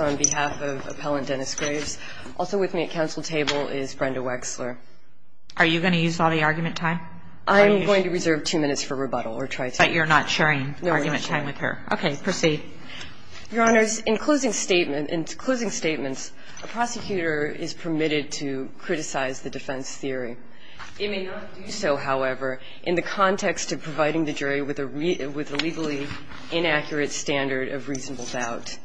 on behalf of Appellant Dennis Graves. Also with me at council table is Brenda Wexler. Are you going to use all the argument time? I'm going to reserve two minutes for rebuttal or try to. But you're not sharing argument time with her. No, I'm not. Okay. Proceed. Your Honors, in closing statements, a prosecutor is permitted to criticize the defense theory. It may not do so, however, in the context of providing the jury with a legally inaccurate standard of reasonable doubt.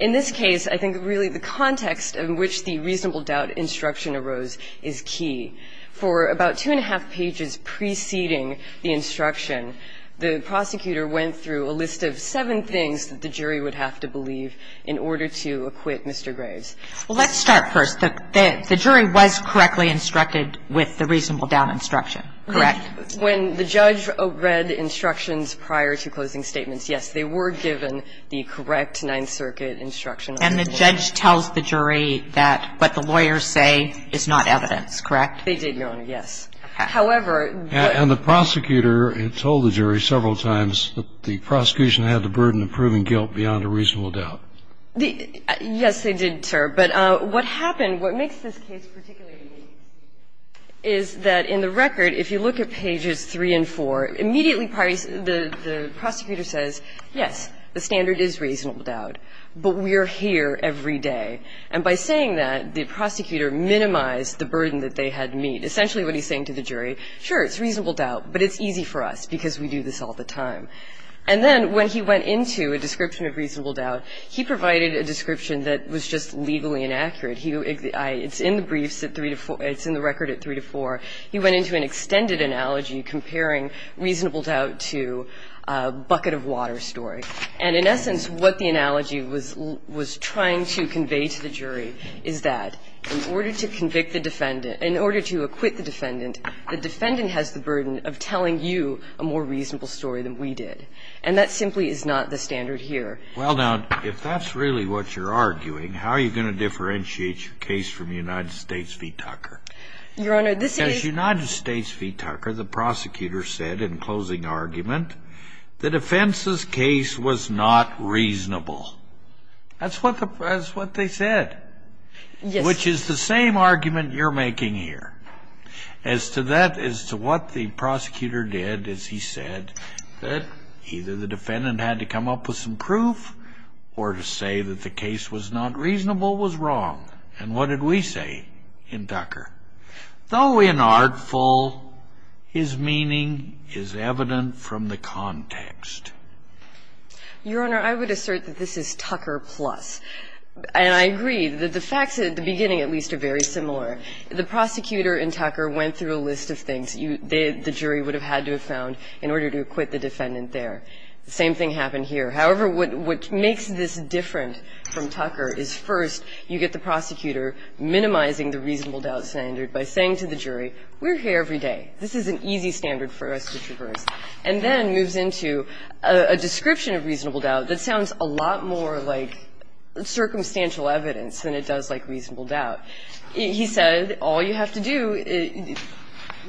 In this case, I think really the context in which the reasonable doubt instruction arose is key. For about two and a half pages preceding the instruction, the prosecutor went through a list of seven things that the jury would have to believe in order to acquit Mr. Graves. Well, let's start first. The jury was correctly instructed with the reasonable doubt instruction, correct? When the judge read instructions prior to closing statements, yes, they were given the correct Ninth Circuit instruction. And the judge tells the jury that what the lawyers say is not evidence, correct? They did, Your Honor, yes. However, the ---- And the prosecutor told the jury several times that the prosecution had the burden of proving guilt beyond a reasonable doubt. Yes, they did, sir. But what happened, what makes this case particularly interesting is that in the record, if you look at pages 3 and 4, immediately the prosecutor says, yes, the standard is reasonable doubt, but we are here every day. And by saying that, the prosecutor minimized the burden that they had to meet. Essentially, what he's saying to the jury, sure, it's reasonable doubt, but it's easy for us because we do this all the time. And then when he went into a description of reasonable doubt, he provided a description that was just legally inaccurate. It's in the briefs at 3 to 4. It's in the record at 3 to 4. He went into an extended analogy comparing reasonable doubt to a bucket of water story. And in essence, what the analogy was trying to convey to the jury is that in order to convict the defendant, in order to acquit the defendant, the defendant has the standard here. And that's what the prosecutor did. And that simply is not the standard here. Well, now, if that's really what you're arguing, how are you going to differentiate your case from the United States v. Tucker? Your Honor, this is the case. As United States v. Tucker, the prosecutor said in closing argument the defense's case was not reasonable. That's what they said. Yes. Which is the same argument you're making here. As to that, as to what the prosecutor did is he said that either the defendant had to come up with some proof or to say that the case was not reasonable was wrong. And what did we say in Tucker? Though inartful, his meaning is evident from the context. Your Honor, I would assert that this is Tucker plus. And I agree that the facts at the beginning at least are very similar. The prosecutor in Tucker went through a list of things the jury would have had to have found in order to acquit the defendant there. The same thing happened here. However, what makes this different from Tucker is, first, you get the prosecutor minimizing the reasonable doubt standard by saying to the jury, we're here every day. This is an easy standard for us to traverse. And then moves into a description of reasonable doubt that sounds a lot more like circumstantial evidence than it does like reasonable doubt. He said, all you have to do,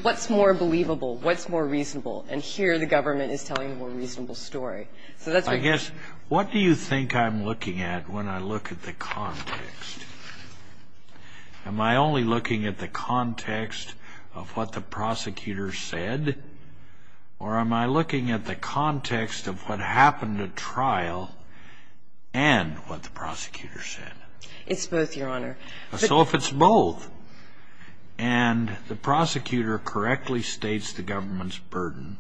what's more believable? What's more reasonable? And here the government is telling a more reasonable story. So that's what he said. I guess, what do you think I'm looking at when I look at the context? Am I only looking at the context of what the prosecutor said? Or am I looking at the context of what happened at trial and what the prosecutor said? It's both, Your Honor. So if it's both, and the prosecutor correctly states the government's burden,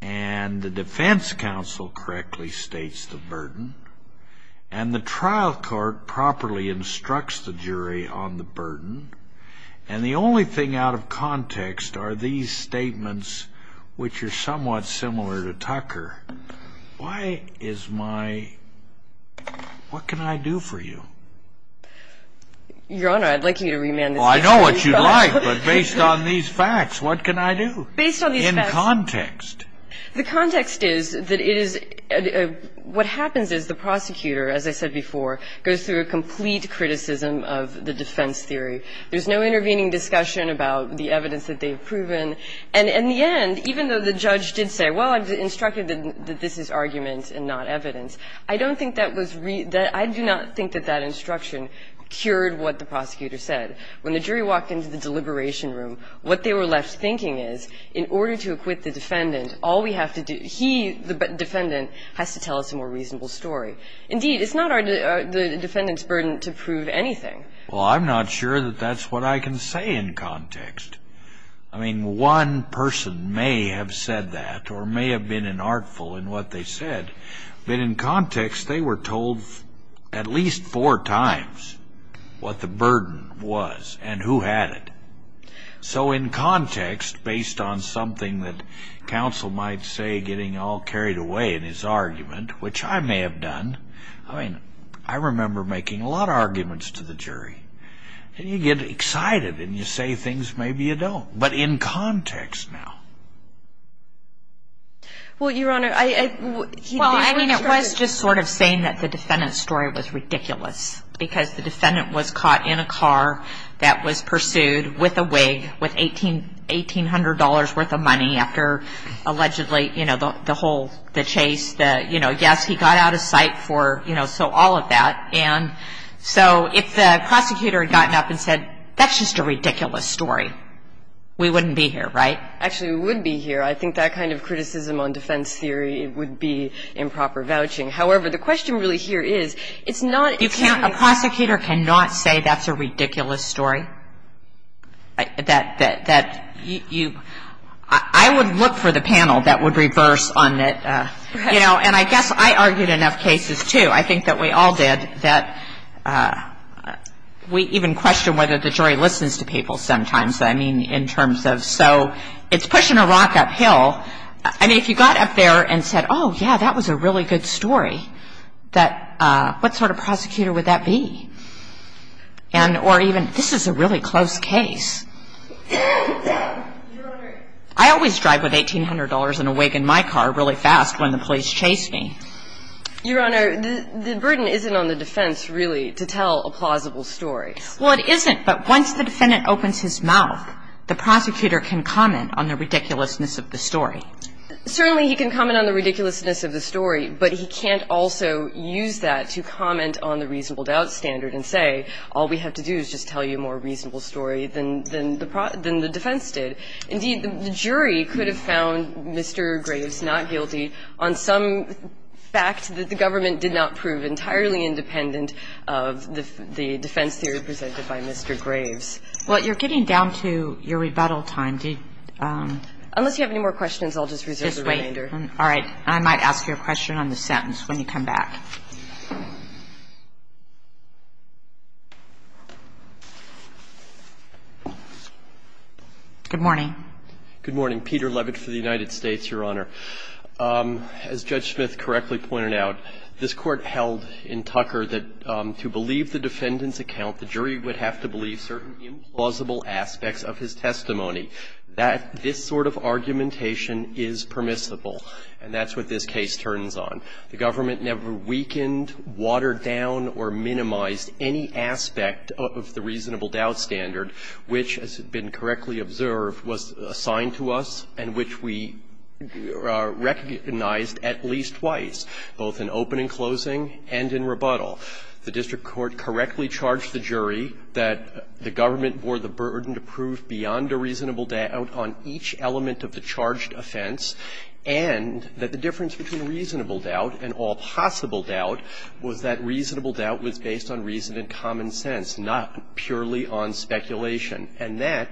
and the defense counsel correctly states the burden, and the trial court properly instructs the jury on the burden, and the only thing out of context are these statements, which are somewhat similar to Tucker, why is my, what can I do for you? Your Honor, I'd like you to remand this case. Well, I know what you'd like, but based on these facts, what can I do? Based on these facts. In context. The context is that it is what happens is the prosecutor, as I said before, goes through a complete criticism of the defense theory. There's no intervening discussion about the evidence that they've proven. And in the end, even though the judge did say, well, I've instructed that this is argument and not evidence. I don't think that was, I do not think that that instruction cured what the prosecutor said. When the jury walked into the deliberation room, what they were left thinking is, in order to acquit the defendant, all we have to do, he, the defendant, has to tell us a more reasonable story. Indeed, it's not the defendant's burden to prove anything. Well, I'm not sure that that's what I can say in context. I mean, one person may have said that or may have been inartful in what they said. But in context, they were told at least four times what the burden was and who had it. So in context, based on something that counsel might say getting all carried away in his argument, which I may have done. I mean, I remember making a lot of arguments to the jury. And you get excited and you say things maybe you don't. But in context now. Well, Your Honor, I. Well, I mean, it was just sort of saying that the defendant's story was ridiculous. Because the defendant was caught in a car that was pursued with a wig with $1,800 worth of money after allegedly, you know, the whole, the chase, the, you know, yes, he got out of sight for, you know, so all of that. And so if the prosecutor had gotten up and said, that's just a ridiculous story, we wouldn't be here, right? Actually, we would be here. I think that kind of criticism on defense theory would be improper vouching. However, the question really here is, it's not. You can't. A prosecutor cannot say that's a ridiculous story. That you. I would look for the panel that would reverse on that. You know, and I guess I argued enough cases, too. I think that we all did. That we even question whether the jury listens to people sometimes. I mean, in terms of, so it's pushing a rock uphill. I mean, if you got up there and said, oh, yeah, that was a really good story, that, what sort of prosecutor would that be? And or even, this is a really close case. I always drive with $1,800 and a wig in my car really fast when the police chase me. Your Honor, the burden isn't on the defense, really, to tell a plausible story. Well, it isn't. But once the defendant opens his mouth, the prosecutor can comment on the ridiculousness of the story. Certainly, he can comment on the ridiculousness of the story, but he can't also use that to comment on the reasonable doubt standard and say, all we have to do is just tell you a more reasonable story than the defense did. Indeed, the jury could have found Mr. Graves not guilty on some fact that the government did not prove entirely independent of the defense theory presented by Mr. Graves. Well, you're getting down to your rebuttal time. Unless you have any more questions, I'll just reserve the remainder. Just wait. All right. And I might ask you a question on the sentence when you come back. Good morning. Good morning. Peter Levitt for the United States, Your Honor. As Judge Smith correctly pointed out, this Court held in Tucker that to believe the defendant's account, the jury would have to believe certain implausible aspects of his testimony. That this sort of argumentation is permissible, and that's what this case turns on. The government never weakened, watered down, or minimized any aspect of the reasonable doubt standard which, as has been correctly observed, was assigned to us and which we recognized at least twice, both in open and closing and in rebuttal. The district court correctly charged the jury that the government bore the burden to prove beyond a reasonable doubt on each element of the charged offense, and that the difference between reasonable doubt and all possible doubt was that reasonable doubt was based on reason and common sense, not purely on speculation. And that,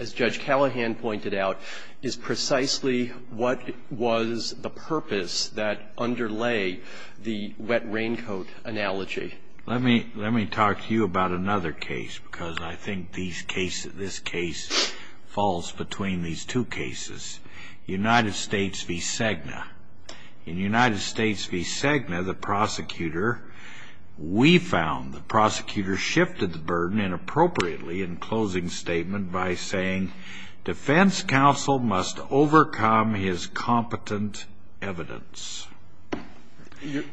as Judge Callahan pointed out, is precisely what was the purpose that underlay the wet raincoat analogy. Let me talk to you about another case, because I think these cases, this case falls between these two cases. United States v. Cegna. In United States v. Cegna, the prosecutor, we found the prosecutor shifted the burden inappropriately in closing statement by saying defense counsel must overcome his competent evidence,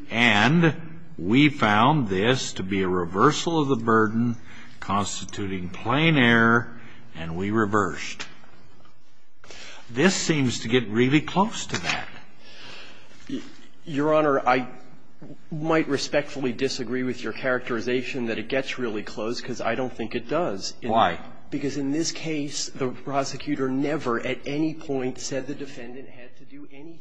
and we found this to be a reversal of the burden constituting plain error, and we reversed. This seems to get really close to that. Your Honor, I might respectfully disagree with your characterization that it gets really close, because I don't think it does. Why? Because in this case, the prosecutor never at any point said the defendant had to do anything.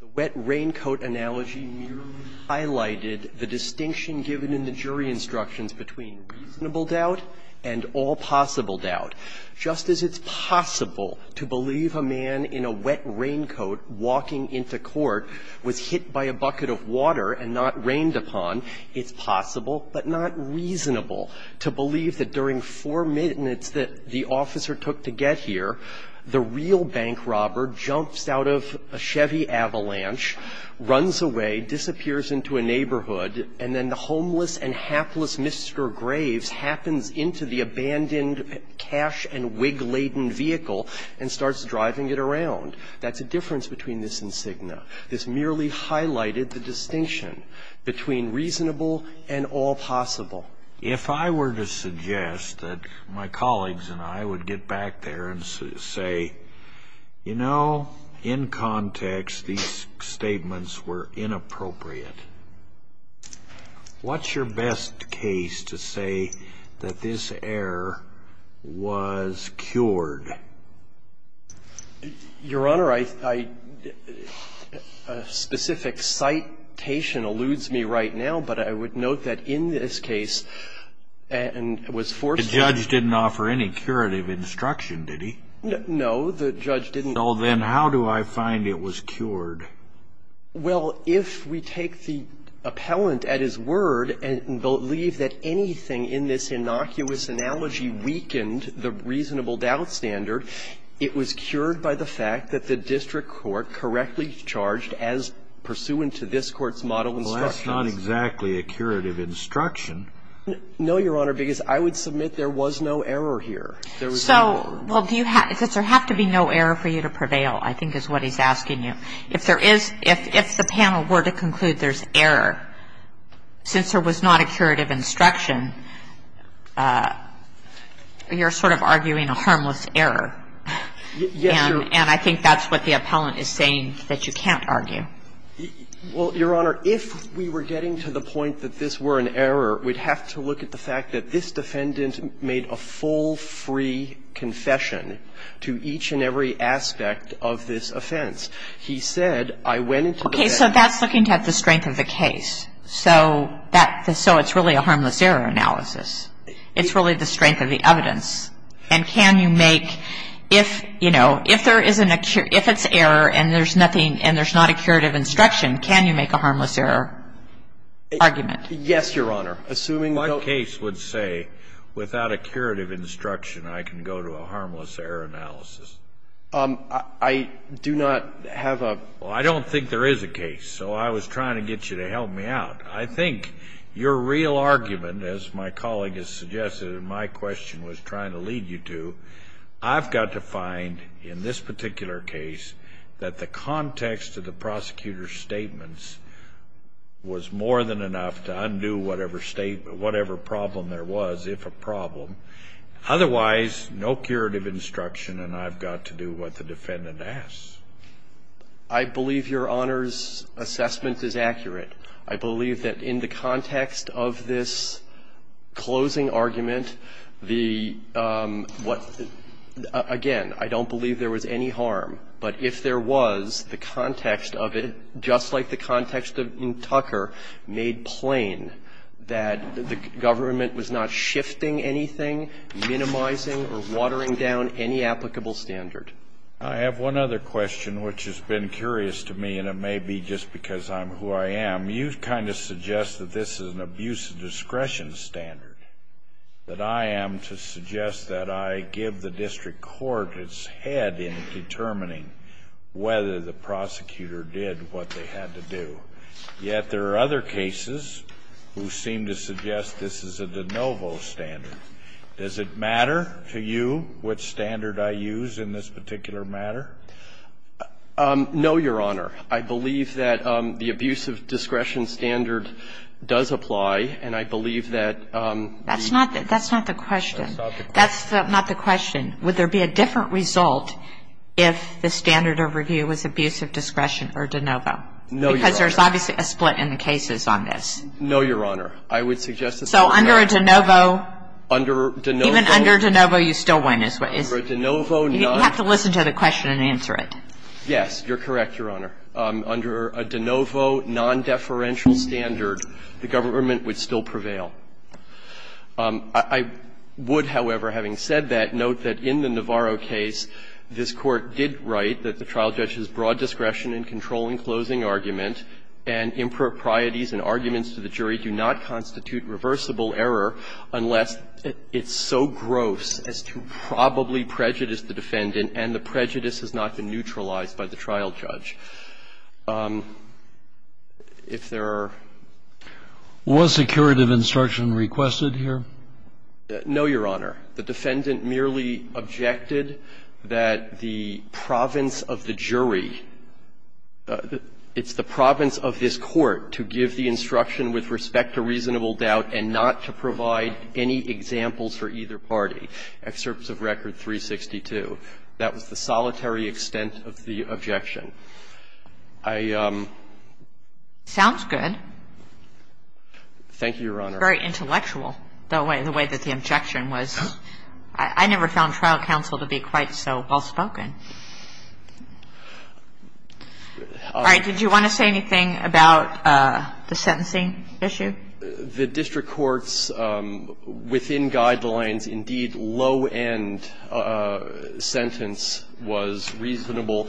The wet raincoat analogy merely highlighted the distinction given in the jury instructions between reasonable doubt and all possible doubt. Just as it's possible to believe a man in a wet raincoat walking into court was hit by a bucket of water and not rained upon, it's possible, but not reasonable, to believe that during four minutes that the officer took to get here, the real bank robber jumps out of a Chevy Avalanche, runs away, disappears into a neighborhood, and then the homeless and hapless Mr. Graves happens into the abandoned cash-and-wig-laden vehicle and starts driving it around. That's a difference between this and Cigna. This merely highlighted the distinction between reasonable and all possible. If I were to suggest that my colleagues and I would get back there and say, you know, in context, these statements were inappropriate, what's your best case to say that this error was cured? Your Honor, I — a specific citation alludes me right now, but I would note that in this case, and was forced to do so. The judge didn't offer any curative instruction, did he? No, the judge didn't. So then how do I find it was cured? Well, if we take the appellant at his word and believe that anything in this innocuous analogy weakened the reasonable doubt standard, it was cured by the fact that the district court correctly charged as pursuant to this Court's model of instruction. Well, that's not exactly a curative instruction. No, Your Honor, because I would submit there was no error here. There was no error. So, well, do you have — does there have to be no error for you to prevail, I think, is what he's asking you. If there is — if the panel were to conclude there's error, since there was not a curative instruction, you're sort of arguing a harmless error. Yes, Your Honor. And I think that's what the appellant is saying, that you can't argue. Well, Your Honor, if we were getting to the point that this were an error, we'd have to look at the fact that this defendant made a full, free confession to each and every aspect of this offense. He said, I went into the van — Okay. So that's looking at the strength of the case. So that — so it's really a harmless error analysis. It's really the strength of the evidence. And can you make — if, you know, if there is an — if it's error and there's nothing — and there's not a curative instruction, can you make a harmless error argument? Yes, Your Honor. Assuming — My case would say, without a curative instruction, I can go to a harmless error analysis. I do not have a — Well, I don't think there is a case, so I was trying to get you to help me out. I think your real argument, as my colleague has suggested and my question was trying to lead you to, I've got to find, in this particular case, that the context of the whatever problem there was, if a problem. Otherwise, no curative instruction and I've got to do what the defendant asks. I believe Your Honor's assessment is accurate. I believe that in the context of this closing argument, the — what — again, I don't believe there was any harm. But if there was, the context of it, just like the context in Tucker, made plain that the government was not shifting anything, minimizing or watering down any applicable standard. I have one other question, which has been curious to me, and it may be just because I'm who I am. You kind of suggest that this is an abuse of discretion standard, that I am to suggest that I give the district court its head in determining whether the prosecutor did what they had to do. Yet there are other cases who seem to suggest this is a de novo standard. Does it matter to you which standard I use in this particular matter? No, Your Honor. I believe that the abuse of discretion standard does apply, and I believe that the That's not — that's not the question. That's not the question. Would there be a different result if the standard of review was abuse of discretion or de novo? No, Your Honor. Because there's obviously a split in the cases on this. No, Your Honor. I would suggest that the government — So under a de novo — Under de novo — Even under de novo, you still win. Is — Under a de novo, not — You have to listen to the question and answer it. Yes. You're correct, Your Honor. Under a de novo, non-deferential standard, the government would still prevail. I would, however, having said that, note that in the Navarro case, this Court did write that the trial judge's broad discretion in controlling closing argument and improprieties in arguments to the jury do not constitute reversible error unless it's so gross as to probably prejudice the defendant and the prejudice has not been neutralized by the trial judge. If there are — Was a curative instruction requested here? No, Your Honor. The defendant merely objected that the province of the jury — it's the province of this Court to give the instruction with respect to reasonable doubt and not to provide any examples for either party, excerpts of Record 362. That was the solitary extent of the objection. I — Sounds good. Thank you, Your Honor. I think it's very intellectual, the way that the objection was. I never found trial counsel to be quite so well-spoken. All right. Did you want to say anything about the sentencing issue? The district court's within guidelines, indeed, low-end sentence was reasonable.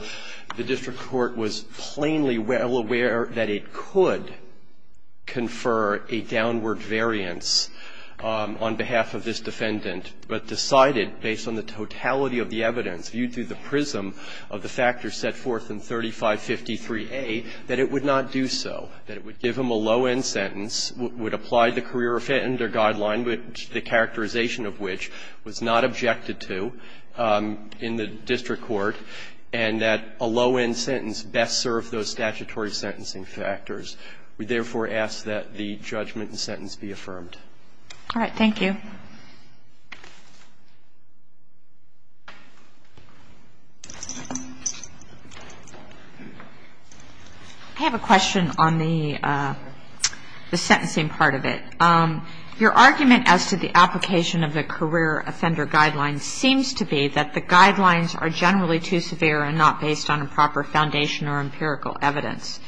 The district court was plainly well aware that it could confer a downward variance on behalf of this defendant, but decided, based on the totality of the evidence viewed through the prism of the factors set forth in 3553A, that it would not do so, that it would give him a low-end sentence, would apply the career offender guideline, the characterization of which was not objected to in the district court, and that a low-end sentence best served those statutory sentencing factors. We therefore ask that the judgment and sentence be affirmed. All right. Thank you. I have a question on the sentencing part of it. Your argument as to the application of the career offender guideline seems to be that the guidelines are generally too severe and not based on a proper foundation or empirical evidence.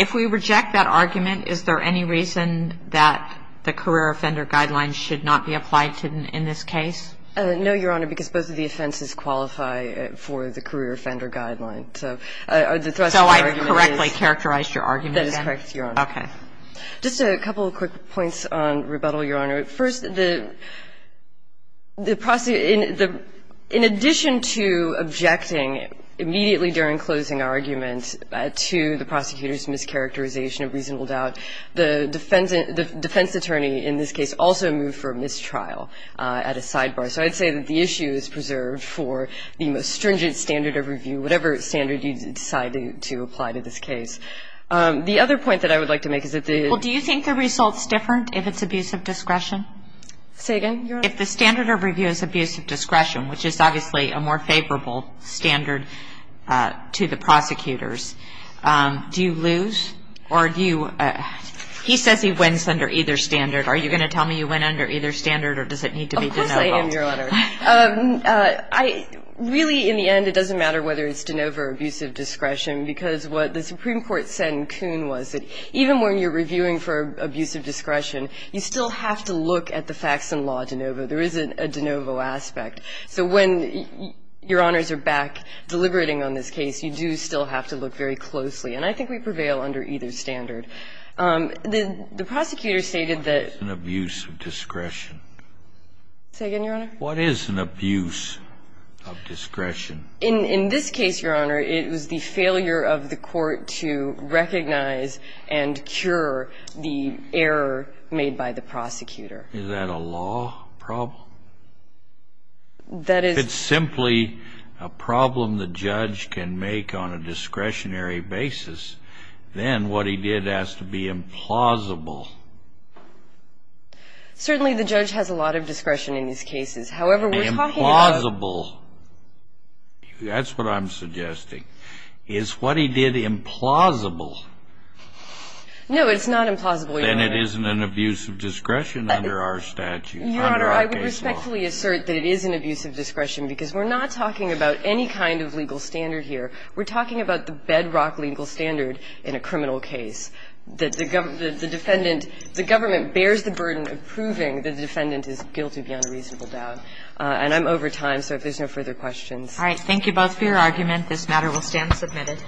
If we reject that argument, is there any reason that the career offender guideline should not be applied in this case? No, Your Honor, because both of the offenses qualify for the career offender guideline. So the thrust of the argument is that is correct, Your Honor. Okay. Just a couple of quick points on rebuttal, Your Honor. First, the prosecutor – in addition to objecting immediately during closing argument to the prosecutor's mischaracterization of reasonable doubt, the defense attorney in this case also moved for mistrial at a sidebar. So I'd say that the issue is preserved for the most stringent standard of review, whatever standard you decide to apply to this case. The other point that I would like to make is that the – Well, do you think the result's different if it's abusive discretion? Say again, Your Honor. If the standard of review is abusive discretion, which is obviously a more favorable standard to the prosecutors, do you lose or do you – he says he wins under either standard. Are you going to tell me you win under either standard or does it need to be de novo? Of course I am, Your Honor. I – really, in the end, it doesn't matter whether it's de novo or abusive discretion, because what the Supreme Court said in Kuhn was that even when you're reviewing for abusive discretion, you still have to look at the facts and law de novo. There isn't a de novo aspect. So when Your Honors are back deliberating on this case, you do still have to look very closely. And I think we prevail under either standard. The prosecutor stated that – What is an abuse of discretion? Say again, Your Honor. What is an abuse of discretion? In this case, Your Honor, it was the failure of the court to recognize and cure the error made by the prosecutor. Is that a law problem? That is – If it's simply a problem the judge can make on a discretionary basis, then what he did has to be implausible. Certainly the judge has a lot of discretion in these cases. However, we're talking about – Implausible. That's what I'm suggesting. Is what he did implausible? No, it's not implausible, Your Honor. Then it isn't an abuse of discretion under our statute, under our case law. Your Honor, I would respectfully assert that it is an abuse of discretion, because we're not talking about any kind of legal standard here. We're talking about the bedrock legal standard in a criminal case, that the defendant the government bears the burden of proving that the defendant is guilty beyond a reasonable doubt. And I'm over time, so if there's no further questions. All right. Thank you both for your argument. This matter will stand submitted.